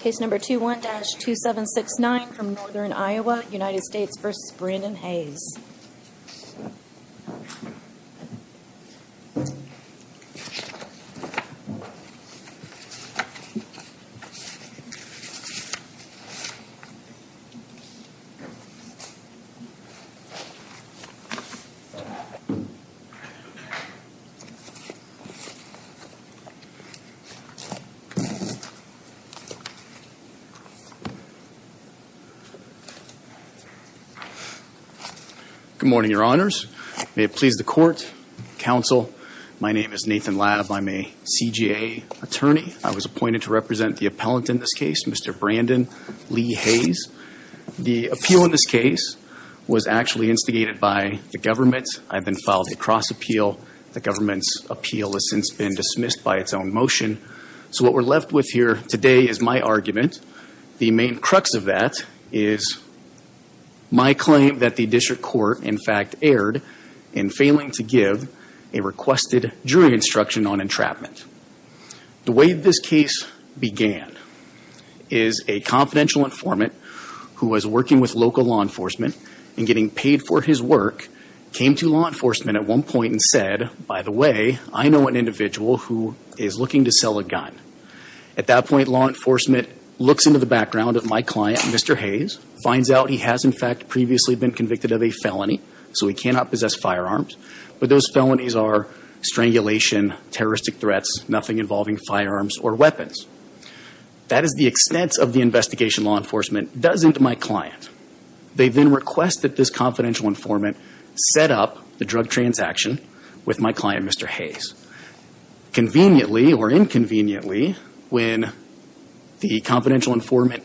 Case number 21-2769 from Northern Iowa, United States v. Brandon Hayes. Good morning, your honors. May it please the court, counsel. My name is Nathan Latta. I'm a CJA attorney. I was appointed to represent the appellant in this case, Mr. Brandon Lee Hayes. The appeal in this case was actually instigated by the government. I then filed a cross appeal. The government's appeal has since been dismissed by its own motion. So what we're left with here today is my argument. The main crux of that is my claim that the district court in fact erred in failing to give a requested jury instruction on entrapment. The way this case began is a confidential informant who was working with local law enforcement and getting paid for his work came to law enforcement at one point and said, by the way, I know an individual who is looking to sell a gun. At that point, law enforcement looks into the background of my client, Mr. Hayes, finds out he has in fact previously been convicted of a felony, so he cannot possess firearms. But those felonies are strangulation, terroristic threats, nothing involving firearms or weapons. That is the extent of the investigation law enforcement does into my client. They then request that this confidential informant set up the drug transaction with my client, Mr. Hayes. Conveniently or inconveniently, when the confidential informant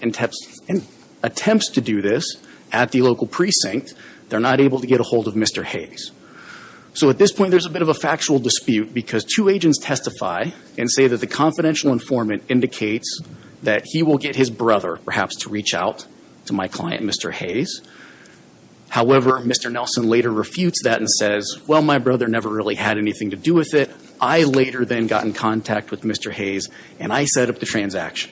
attempts to do this at the local precinct, they're not able to get a hold of Mr. Hayes. So at this point, there's a bit of a factual dispute because two agents testify and say that the confidential informant indicates that he will get his brother perhaps to reach out to my client, Mr. Hayes. However, Mr. Nelson later refutes that and says, well, my brother never really had anything to do with it. I later then got in contact with Mr. Hayes and I set up the transaction.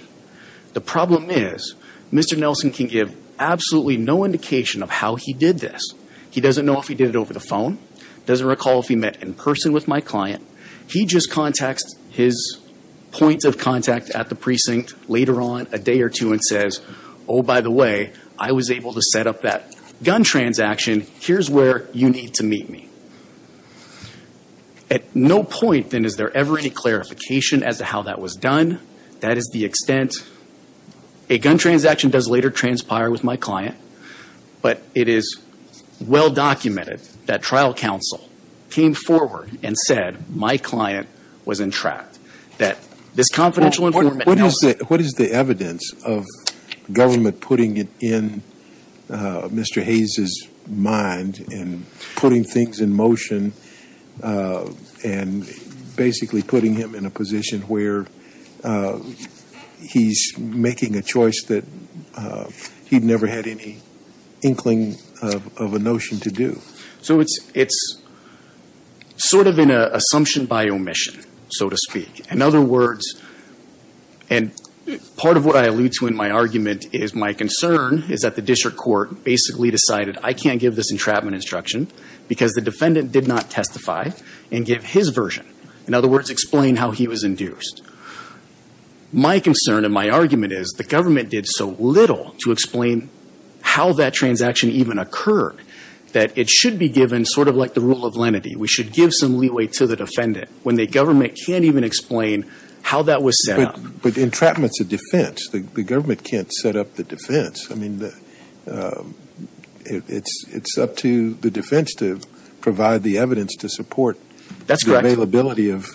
The problem is Mr. Nelson can give absolutely no indication of how he did this. He doesn't know if he did it over the phone, doesn't recall if he met in person with my client. He just contacts his points of contact at the precinct later on, a day or two, and says, oh, by the way, I was able to set up that gun transaction. Here's where you need to meet me. At no point then is there ever any clarification as to how that was done. That is the extent. A gun transaction does later transpire with my client, but it is well documented that trial counsel came forward and said my client was entrapped. That this confidential informant What is the evidence of government putting it in Mr. Hayes' mind and putting things in motion and basically putting him in a position where he's making a choice that he'd never had any inkling of a notion to do? So it's sort of an assumption by omission, so to speak. In other words, and part of what I allude to in my argument is my concern is that the district court basically decided I can't give this entrapment instruction because the defendant did not testify and give his version. In other words, explain how he was induced. My concern and my argument is the how that transaction even occurred. That it should be given sort of like the rule of lenity. We should give some leeway to the defendant when the government can't even explain how that was set up. But entrapment's a defense. The government can't set up the defense. I mean, it's up to the defense to provide the evidence to support the availability of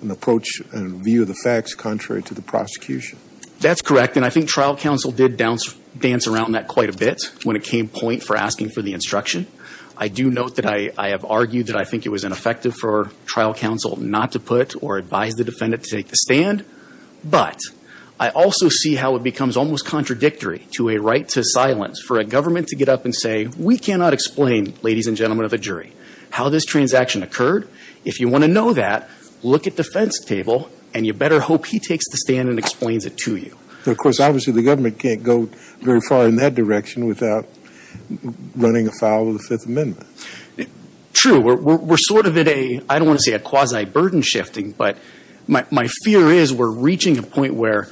an approach and view of the facts contrary to the prosecution. That's correct. And I think trial counsel did dance around that quite a bit when it came point for asking for the instruction. I do note that I have argued that I think it was ineffective for trial counsel not to put or advise the defendant to take the stand. But I also see how it becomes almost contradictory to a right to silence for a government to get up and say, we cannot explain, ladies and gentlemen of the jury, how this transaction occurred. If you want to know that, look at defense table and you better hope he takes the stand and explains it to you. Of course, obviously the government can't go very far in that direction without running afoul of the Fifth Amendment. True. We're sort of at a, I don't want to say a quasi burden shifting, but my fear is we're reaching a point where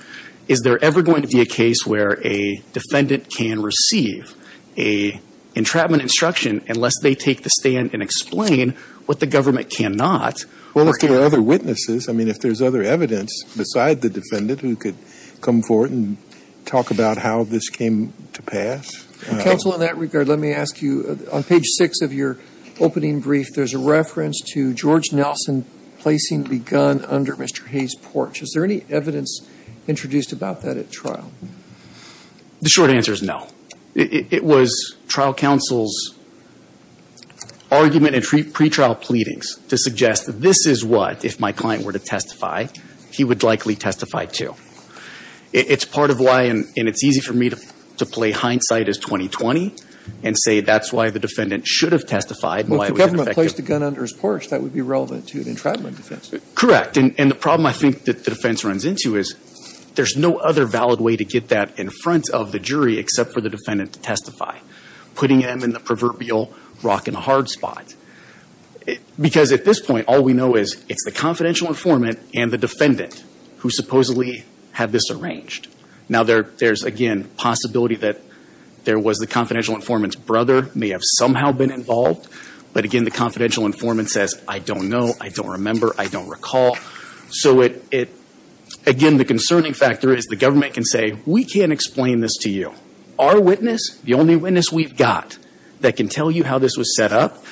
is there ever going to be a case where a defendant can receive a entrapment instruction unless they take the stand and explain what the government cannot. Well, if there are other witnesses, I mean, if there's other evidence beside the defendant who could come forward and talk about how this came to pass. Counsel, in that regard, let me ask you, on page six of your opening brief, there's a reference to George Nelson placing the gun under Mr. Hayes' porch. Is there any evidence introduced about that at trial? The short answer is no. It was trial counsel's argument and pretrial pleadings to suggest this is what, if my client were to testify, he would likely testify to. It's part of why, and it's easy for me to play hindsight as 20-20 and say that's why the defendant should have testified. Well, if the government placed the gun under his porch, that would be relevant to an entrapment defense. Correct. And the problem I think that the defense runs into is there's no other valid way to get that in front of the jury except for the defendant to testify, putting them in the proverbial rock-and-hard spot. Because at this point, all we know is it's the confidential informant and the defendant who supposedly have this arranged. Now there's, again, possibility that there was the confidential informant's brother may have somehow been involved. But again, the confidential informant says, I don't know, I don't remember, I don't recall. So it, again, the concerning factor is the government can say, we can't explain this to you. Our witness, the only witness we've got that can tell you how this was set up,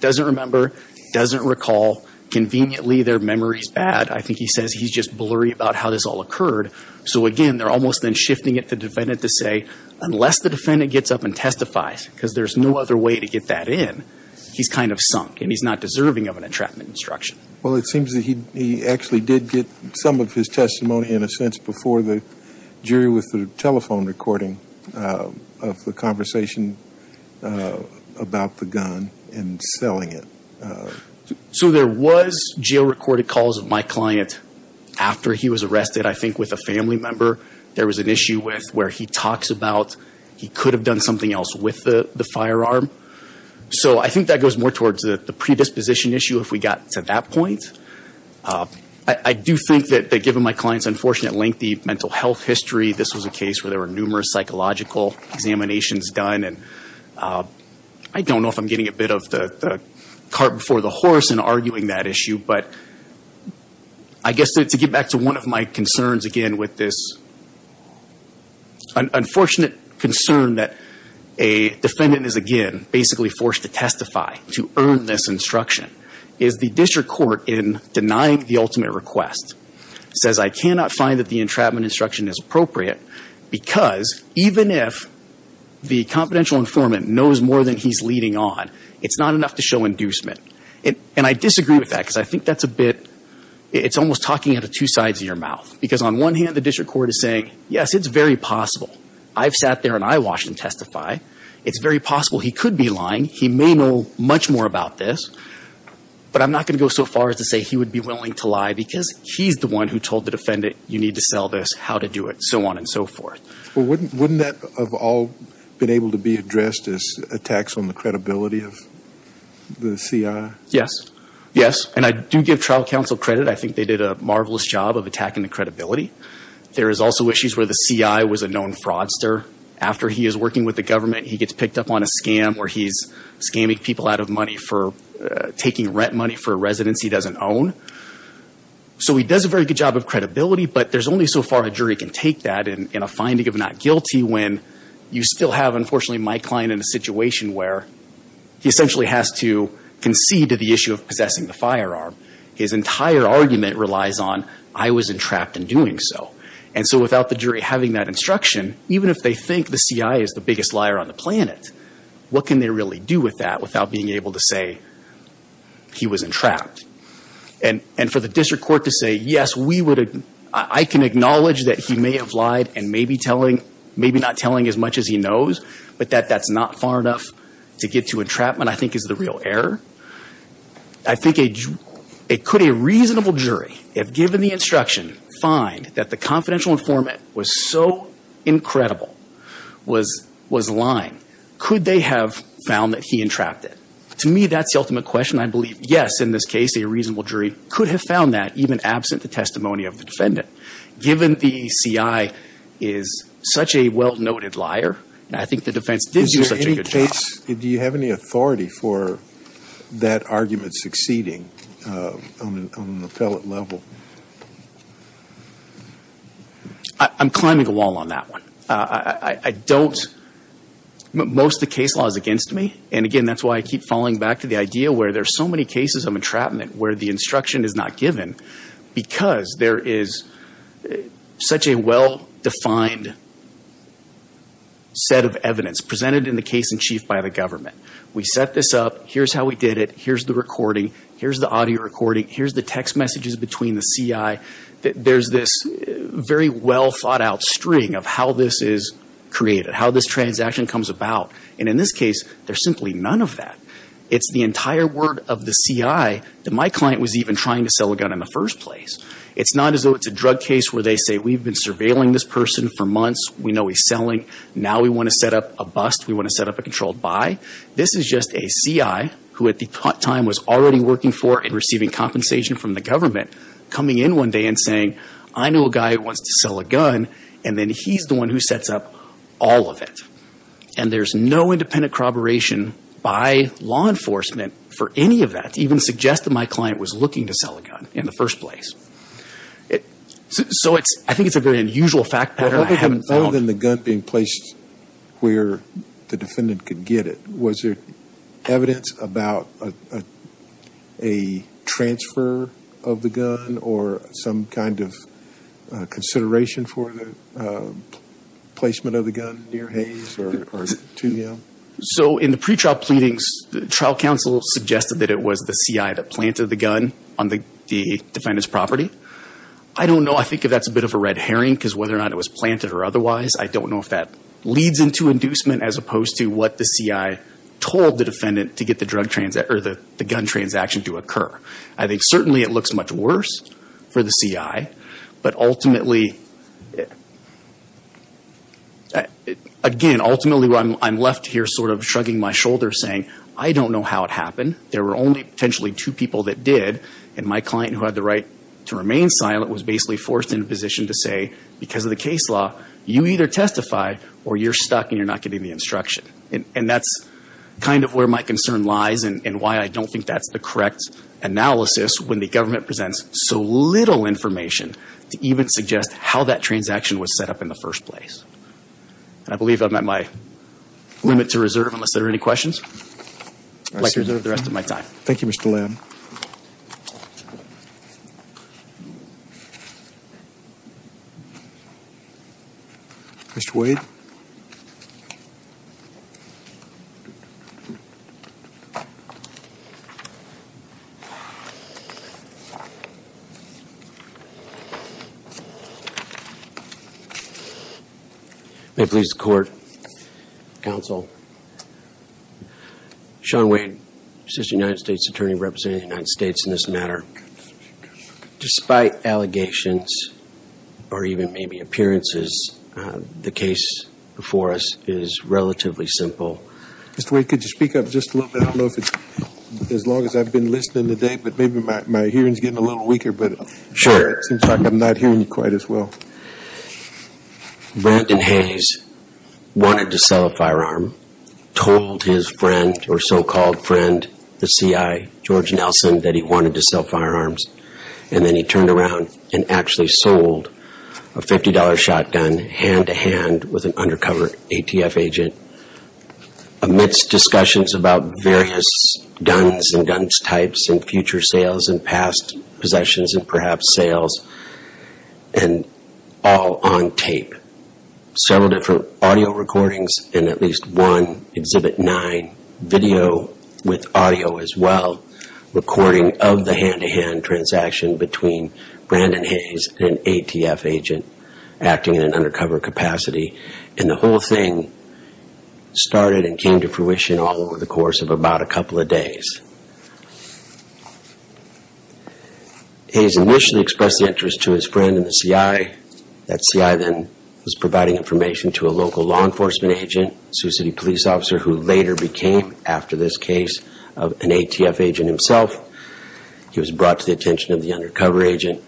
doesn't remember, doesn't recall. Conveniently, their memory's bad. I think he says he's just blurry about how this all occurred. So again, they're almost then shifting it to the defendant to say, unless the defendant gets up and testifies, because there's no other way to get that in, he's kind of sunk and he's not deserving of an entrapment instruction. Well, it seems that he actually did get some of his testimony, in a sense, before the jury with the telephone recording of the conversation about the gun and selling it. So there was jail-recorded calls of my client after he was arrested, I think with a family member. There was an issue with where he talks about he could have done something else with the firearm. So I think that goes more towards the predisposition issue if we got to that point. I do think that given my client's unfortunate, lengthy mental health history, this was a case where there were numerous psychological examinations done. I don't know if I'm getting a bit of the cart before the horse in arguing that issue, but I guess to get back to one of my concerns, again, with this unfortunate concern that a defendant is, again, basically forced to testify to earn this instruction, is the district court in denying the ultimate request says, I cannot find that the entrapment instruction is appropriate, because even if the confidential informant knows more than he's leading on, it's not enough to show inducement. And I disagree with that, because I think that's a bit, it's almost talking out of two sides of your mouth. Because on one hand, the district court is saying, yes, it's very possible. I've sat there and I watched him testify. It's very possible he could be lying. He may know much more about this. But I'm not going to go so far as to say he would be willing to lie because he's the one who told the defendant, you need to sell this, how to do it, so on and so forth. Well, wouldn't that have all been able to be addressed as attacks on the credibility of the CI? Yes. Yes. And I do give trial counsel credit. I think they did a marvelous job of attacking the credibility. There is also issues where the CI was a known fraudster. After he is working with the government, he gets picked up on a scam where he's scamming people out of money for taking rent money for a residence he doesn't own. So he does a very good job of credibility, but there's only so far a jury can take that in a finding of not guilty when you still have, unfortunately, my client in a situation where he essentially has to concede to the issue of possessing the firearm. His entire argument relies on, I was entrapped in doing so. And so without the jury having that instruction, even if they think the CI is the biggest liar on the planet, what can they really do with that without being able to say he was entrapped? And for the district court to say, yes, I can acknowledge that he may have lied and maybe not telling as much as he knows, but that that's not far enough to get to entrapment, I think is the real error. I think it could be a reasonable jury, if given the instruction, find that the confidential informant was so incredible, was lying, could they have found that he entrapped it? To me, that's the ultimate question. I believe, yes, in this case, a reasonable jury could have found that even absent the testimony of the defendant. Given the CI is such a well-noted liar, I think the defense did do such a good job. Do you have any authority for that argument succeeding on an appellate level? I'm climbing a wall on that one. I don't. Most of the case law is against me. And again, that's why I keep falling back to the idea where there's so many cases of entrapment where the instruction is not given because there is such a well-defined set of evidence presented in the case in chief by the government. We set this up. Here's how we did it. Here's the recording. Here's the audio recording. Here's the text messages between the CI. There's this very well-thought-out string of how this is created, how this transaction comes about. And in this case, there's simply none of that. It's the entire word of the CI that my client was even trying to sell a gun in the first place. It's not as though it's a drug case where they say, we've been surveilling this person for months. We know he's selling. Now we want to set up a bust. We want to set up a controlled buy. This is just a CI who at the time was already working for and receiving compensation from the government coming in one day and saying, I know a guy who wants to sell a gun. And then he's the one who sets up all of it. And there's no independent corroboration by law enforcement for any of that to even suggest that my client was looking to sell a gun in the first place. So I think it's a very unusual fact pattern I haven't found. Other than the gun being placed where the defendant could get it, was there evidence about a transfer of the gun or some kind of consideration for the placement of the gun near Hayes or 2M? So in the pretrial pleadings, the trial counsel suggested that it was the CI that planted the gun on the defendant's property. I don't know. I think that's a bit of a red herring because whether or not it was planted or otherwise, I don't know if that leads into inducement as opposed to what the CI told the defendant to get the gun transaction to occur. I think certainly it looks much worse for the CI. But ultimately, again, ultimately I'm left here sort of shrugging my shoulders saying, I don't know how it happened. There were only potentially two people that did. And my client, who had the right to remain silent, was basically forced into a position to say, because of the case law, you either testify or you're stuck and you're not getting the instruction. And that's kind of where my concern lies and why I don't think that's the correct analysis when the government presents so little information to even suggest how that transaction was set up in the first place. And I believe I'm at my limit to reserve unless there are any questions. I'd like to reserve the rest of my time. Thank you, Mr. Lamb. May it please the Court, Counsel, Sean Wade, Assistant United States Attorney representing the United States in this matter. Despite allegations, or even maybe appearances, the case before us is relatively simple. Mr. Wade, could you speak up just a little bit? I don't know if it's, as long as I've been listening today, but maybe my hearing's getting a little weaker, but it seems like I'm not hearing you quite as well. Sure. Brandon Hayes wanted to sell a firearm, told his friend, or so-called friend, the salesman, that he wanted to sell firearms. And then he turned around and actually sold a $50 shotgun hand-to-hand with an undercover ATF agent amidst discussions about various guns and guns types and future sales and past possessions and perhaps sales and all on tape. Several different audio recordings and at least one Exhibit 9 video with audio as well as recording of the hand-to-hand transaction between Brandon Hayes and an ATF agent acting in an undercover capacity. And the whole thing started and came to fruition all over the course of about a couple of days. Hayes initially expressed interest to his friend in the CI. That CI then was providing information to a local law enforcement agent, Sioux City police officer, who later became, after this case, an ATF agent himself. He was brought to the attention of the undercover agent.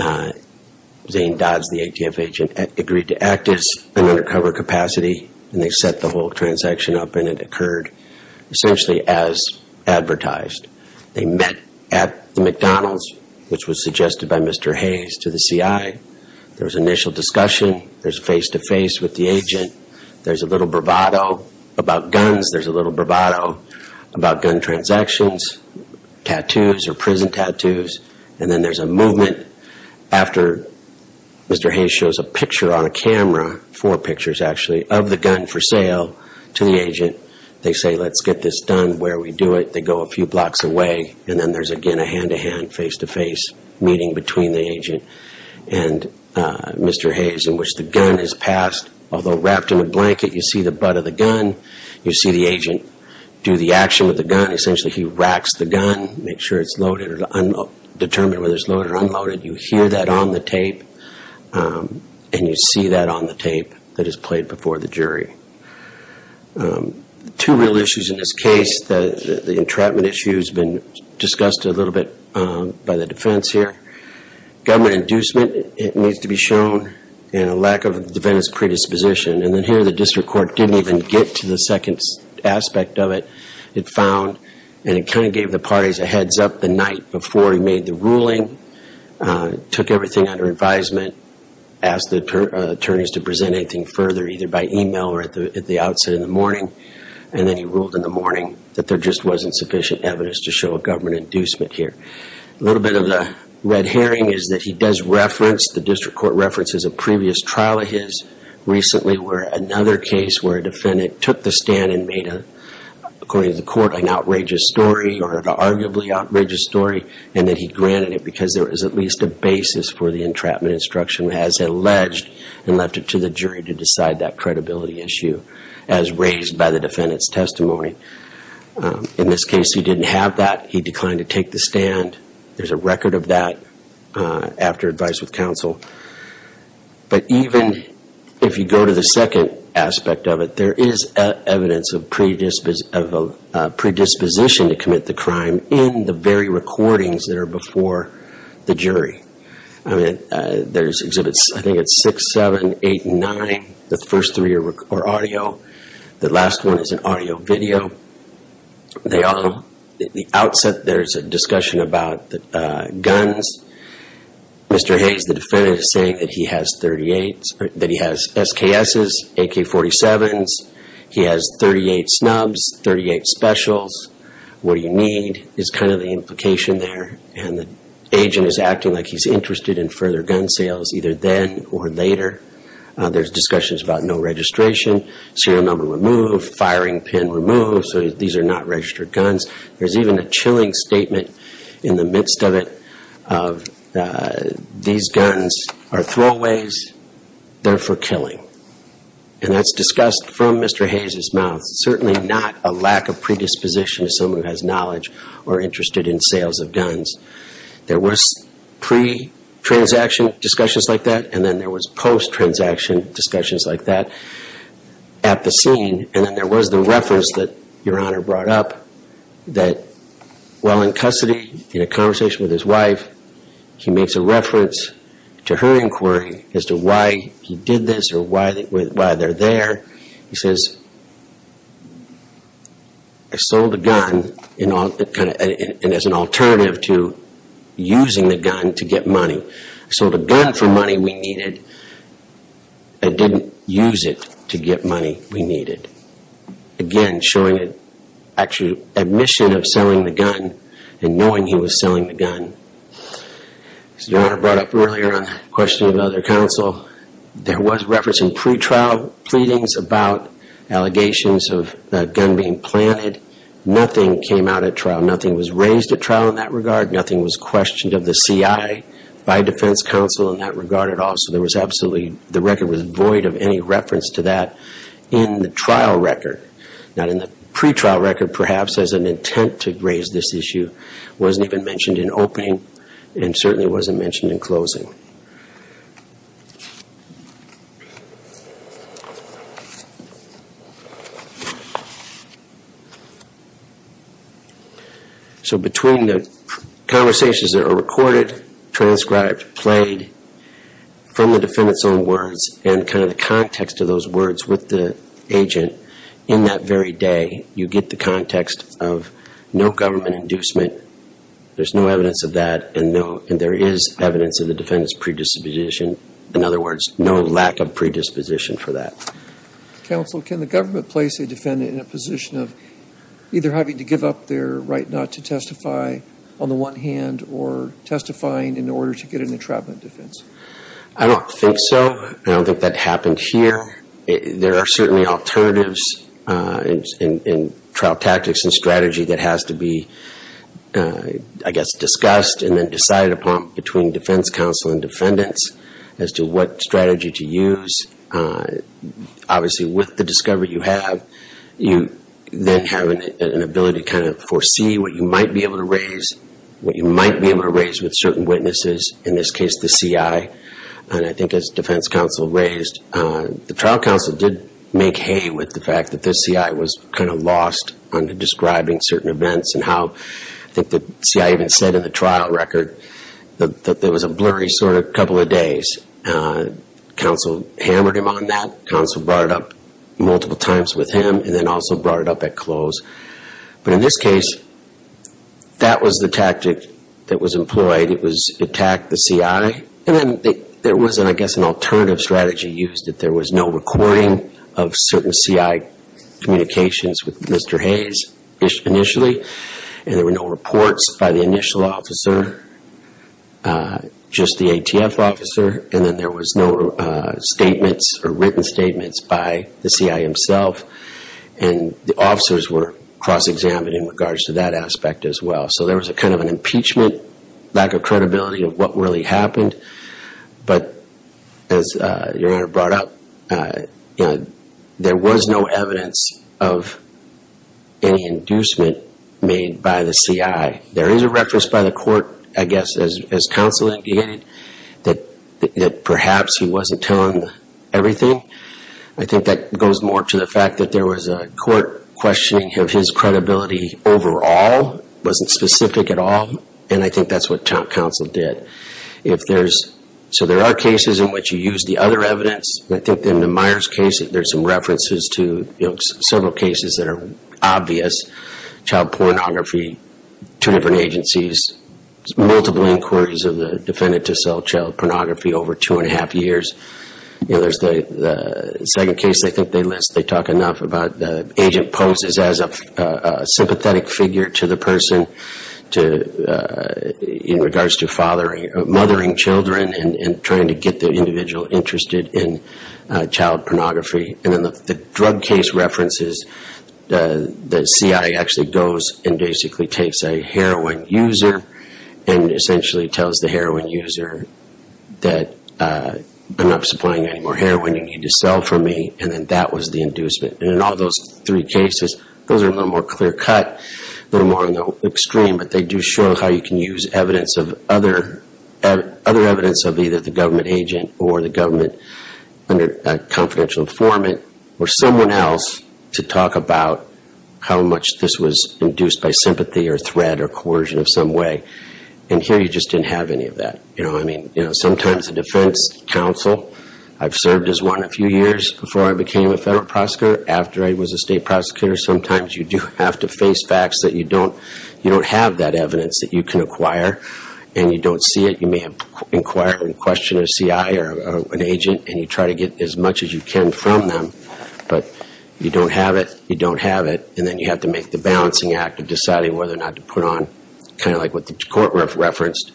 Zane Dodds, the ATF agent, agreed to act as an undercover capacity and they set the whole transaction up and it occurred essentially as advertised. They met at the McDonald's, which was suggested by Mr. Hayes to the CI. There was initial discussion. There's face-to-face with the agent. There's a little bravado about guns. There's a little bravado about gun transactions, tattoos or prison tattoos. And then there's a movement after Mr. Hayes shows a picture on a camera, four pictures actually, of the gun for sale to the agent. They say, let's get this done where we do it. They go a few blocks away and then there's again a hand-to-hand, face-to-face meeting between the agent and Mr. Hayes in which the although wrapped in a blanket, you see the butt of the gun. You see the agent do the action with the gun. Essentially, he racks the gun, make sure it's loaded, determine whether it's loaded or unloaded. You hear that on the tape and you see that on the tape that is played before the jury. Two real issues in this case. The entrapment issue has been discussed a little bit by the predisposition. And then here, the district court didn't even get to the second aspect of it. It found and it kind of gave the parties a heads up the night before he made the ruling. Took everything under advisement. Asked the attorneys to present anything further either by email or at the outset in the morning. And then he ruled in the morning that there just wasn't sufficient evidence to show a government inducement here. A little bit of the red herring is that he does reference, the district court references a previous trial of his recently where another case where a defendant took the stand and made a, according to the court, an outrageous story or an arguably outrageous story and that he granted it because there was at least a basis for the entrapment instruction as alleged and left it to the jury to decide that credibility issue as raised by the defendant's testimony. In this case, he didn't have that. He declined to take the stand. There's a record of that after advice with counsel. But even if you go to the second aspect of it, there is evidence of predisposition to commit the crime in the very recordings that are before the jury. There's exhibits, I think it's six, seven, eight, nine. The first three are audio. The last one is an audio video. They all, at the outset, there's a discussion about guns. Mr. Hayes, the defendant, is saying that he has 38, that he has SKS's, AK-47's. He has 38 snubs, 38 specials. What do you need is kind of the implication there. And the agent is acting like he's interested in further gun sales either then or later. There's discussions about no registration, serial number removed, firing pin removed. So these are not registered guns. There's even a chilling statement in the midst of it of these guns are throwaways, they're for killing. And that's discussed from Mr. Hayes' mouth. Certainly not a lack of predisposition to someone who has knowledge or interested in sales of guns. There was pre-transaction discussions like that and then there was post-transaction discussions like that at the scene. And then there was the reference that Your Honor brought up that while in custody, in a conversation with his wife, he makes a reference to her inquiry as to why he did this or why they're there. He says, I sold a gun and as an alternative to using the gun to get money. I sold a gun for money we needed and didn't use it to get money we needed. Again, showing an actual admission of selling the gun and knowing he was selling the gun. As Your Honor brought up earlier on the question of other counsel, there was reference in pre-trial pleadings about allegations of a gun being planted. Nothing came out at trial. Nothing was raised at trial in that regard. Nothing was questioned of the CI by defense counsel in that regard at all. So there was absolutely, the record was void of any reference to that in the trial record. Not in the pre-trial record perhaps as an intent to raise this issue. It wasn't even mentioned in opening and certainly wasn't mentioned in closing. So between the conversations that are recorded, transcribed, played from the defendant's own words and kind of the context of those words with the agent, in that very day you get the context of no government inducement. There's no evidence of that and there is evidence of the defendant's predisposition. In other words, no lack of predisposition for that. Counsel, can the government place a defendant in a position of either having to give up their right not to testify on the one hand or testifying in order to get an entrapment defense? I don't think so. I don't think that happened here. There are certainly alternatives in trial tactics and strategy that has to be, I guess, discussed and then decided upon between defense counsel and defendants as to what strategy to use. Obviously with the discovery you have, you then have an ability to kind of foresee what you might be able to raise, what you might be able to raise with certain witnesses, in this case the CI. And I think as defense counsel raised, the trial counsel did make hay with the fact that the CI was kind of lost on describing certain events and how, I think the CI even said in the trial record that there was a blurry sort of couple of days. Counsel hammered him on that. Counsel brought it up multiple times with him and then also brought it up at close. But in this case, that was the tactic that was employed. It was attack the CI and then there was, I guess, an alternative strategy used that there was no recording of certain CI communications with Mr. Hayes initially and there were no reports by the initial officer, just the ATF officer and then there was no statements or written statements by the CI himself and the officers were cross-examined in regards to that aspect as well. So there was a kind of an impeachment, lack of credibility of what really happened. But as your Honor brought up, there was no evidence of any inducement made by the CI. There is a reference by the court, I guess, as counsel indicated, that perhaps he wasn't telling everything. I think that goes more to the fact that there was a court questioning of his credibility overall, wasn't specific at all, and I think that's what counsel did. If there's, so there are cases in which you use the other evidence. I think in the Myers case, there's some references to several cases that are obvious. Child pornography, two different agencies, multiple inquiries of the defendant to sell child pornography over two and a half years. The second case I think they list, they talk enough about the agent poses as a sympathetic figure to the person in regards to mothering children and trying to get the individual interested in child pornography. And then the drug case references, the CI actually goes and basically takes a heroin user and essentially tells the heroin user that I'm not supplying any more heroin, you need to sell for me, and then that was the inducement. And in all those three cases, those are a little more clear cut, a little more extreme, but they do show how you can use evidence of other evidence of either the government agent or the government under confidential informant or someone else to talk about how much this was induced by sympathy or threat or coercion of some way. And here you just didn't have any of that. I mean, sometimes the defense counsel, I've served as one a few years before I became a federal prosecutor, after I was a state prosecutor, sometimes you do have to face facts that you don't have that evidence that you can acquire and you don't see it. You may have inquired and questioned a CI or an agent and you try to get as much as you can from them, but you don't have it, you don't have it, and then you have to make the balancing act of deciding whether or not to put on kind of like what the court referenced,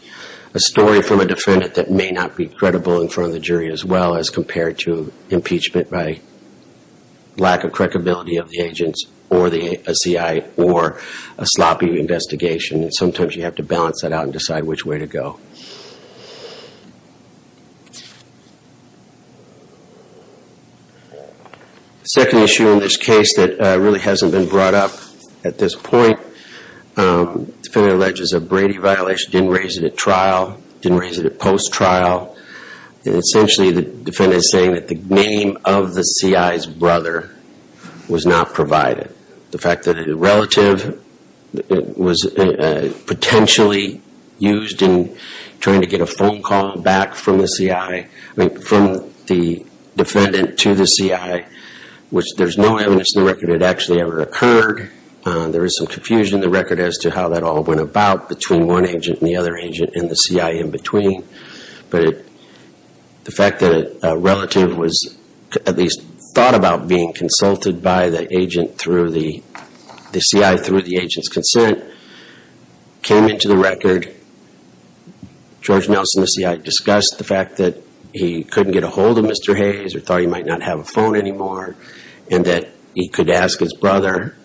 a story from a defendant that may not be credible in front of the jury as well as compared to lack of correctability of the agents or a CI or a sloppy investigation. Sometimes you have to balance that out and decide which way to go. The second issue in this case that really hasn't been brought up at this point, the defendant alleges a Brady violation, didn't raise it at trial, didn't raise it at post-trial. Essentially the defendant is saying that the name of the CI's brother was not provided. The fact that it is relative, it was potentially used in trying to get a phone call back from the CI, I mean from the defendant to the CI, which there's no evidence in the record it actually ever occurred. There is some confusion in the record as to how that all went about between one agent and the other agent and the CI in between, but the fact that a relative was at least thought about being consulted by the agent through the CI through the agent's consent came into the record. George Nelson, the CI, discussed the fact that he couldn't get a hold of Mr. Hayes or thought he might not have a phone anymore and that he could ask his brother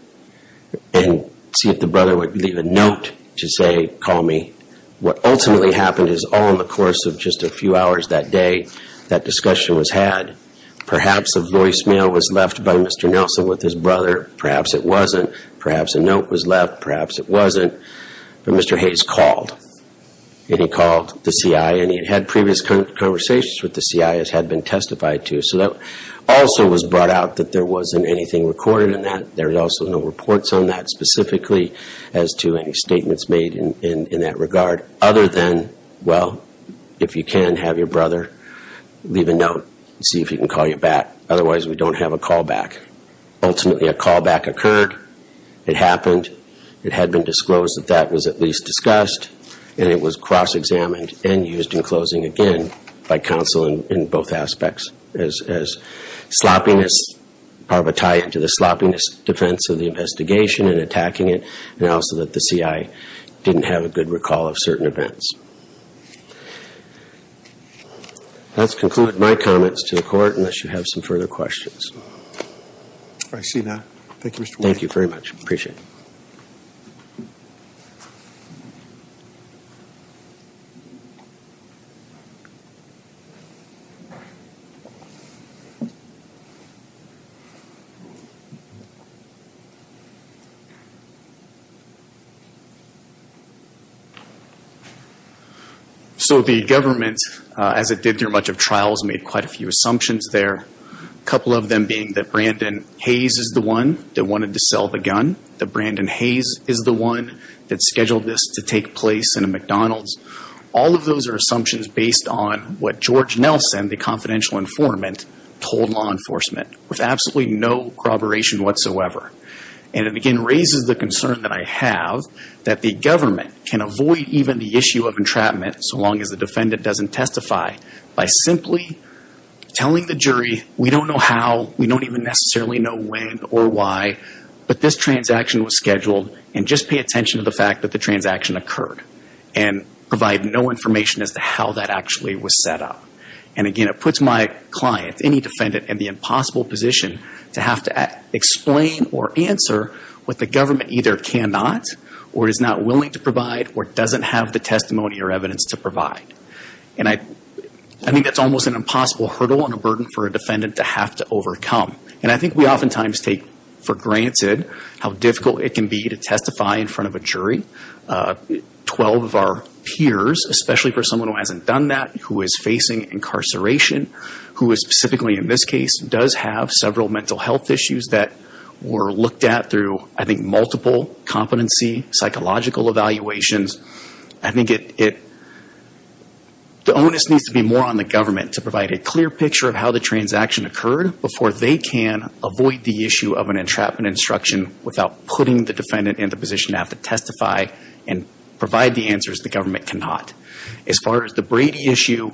and see if the brother would leave a note to say, call me. What ultimately happened is all in the course of just a few hours that day that discussion was had. Perhaps a voicemail was left by Mr. Nelson with his brother, perhaps it wasn't, perhaps a note was left, perhaps it wasn't, but Mr. Hayes called and he called the CI and he had had previous conversations with the CI that had been testified to, so that also was brought out that there wasn't anything recorded in that. There's also no reports on that specifically as to any statements made in that regard other than, well, if you can have your brother leave a note and see if he can call you back. Otherwise we don't have a call back. Ultimately a call back occurred, it happened, it had been disclosed that that was at least discussed and it was cross-examined and used in closing again by counsel in both aspects as sloppiness, part of a tie-in to the sloppiness defense of the investigation and attacking it and also that the CI didn't have a good recall of certain events. Let's conclude my comments to the Court unless you have some further questions. I see none. Thank you, Mr. White. Thank you very much. I appreciate it. So the government, as it did through much of trials, made quite a few assumptions there. A couple of them being that Brandon Hayes is the one that wanted to sell the gun, that Brandon Hayes is the one that scheduled this to take place in a McDonald's. All of those are assumptions based on what George Nelson, the confidential informant, told law enforcement with absolutely no corroboration whatsoever. And it again raises the concern that I have that the government can avoid even the issue of entrapment so long as the defendant doesn't testify by simply telling the jury we don't know how, we don't even necessarily know when or why, but this transaction was scheduled and just pay attention to the fact that the government is not willing to provide or doesn't have the testimony or evidence to provide. And again, it puts my client, any defendant, in the impossible position to have to explain or answer what the government either cannot or is not willing to provide or doesn't have the testimony or evidence to provide. And I think that's almost an impossible hurdle and a burden for a defendant to have to overcome. And I think we oftentimes take for granted how difficult it can be to testify in front of a jury. Twelve of our peers, especially for someone who hasn't done that, who is facing incarceration, who is specifically in this case does have several mental health issues that were looked at through I think multiple competency, psychological evaluations. I think the onus needs to be more on the government to provide a clear picture of how the transaction occurred before they can avoid the issue of an entrapment instruction without putting the defendant in the position to have to testify and provide the answers the government cannot. As far as the Brady issue,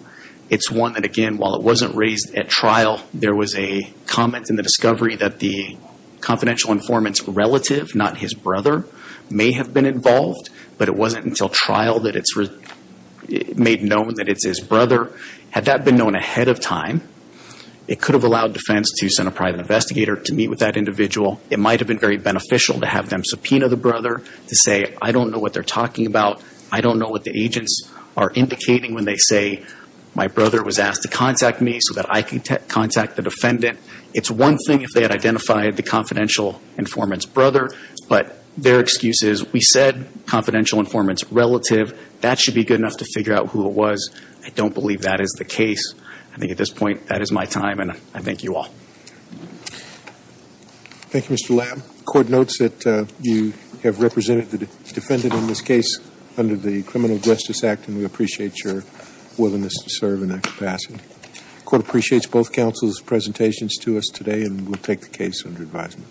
it's one that again, while it wasn't raised at trial, there was a comment in the discovery that the confidential informant's relative, not his brother, may have been involved, but it wasn't until trial that it's made known that it's his brother. Had that been known ahead of time, it could have allowed defense to send a private investigator to meet with that individual. It might have been very beneficial to have them subpoena the brother to say I don't know what they're talking about. I don't know what the agents are indicating when they say my brother was asked to contact me so that I could contact the defendant. It's one thing if they had identified the confidential informant's brother, but their excuse is we said confidential informant's brother was. I don't believe that is the case. I think at this point, that is my time and I thank you all. Thank you Mr. Lamb. The court notes that you have represented the defendant in this case under the Criminal Justice Act and we appreciate your willingness to serve in that capacity. The court appreciates both counsel's presentations to us today and will take the case under advisement.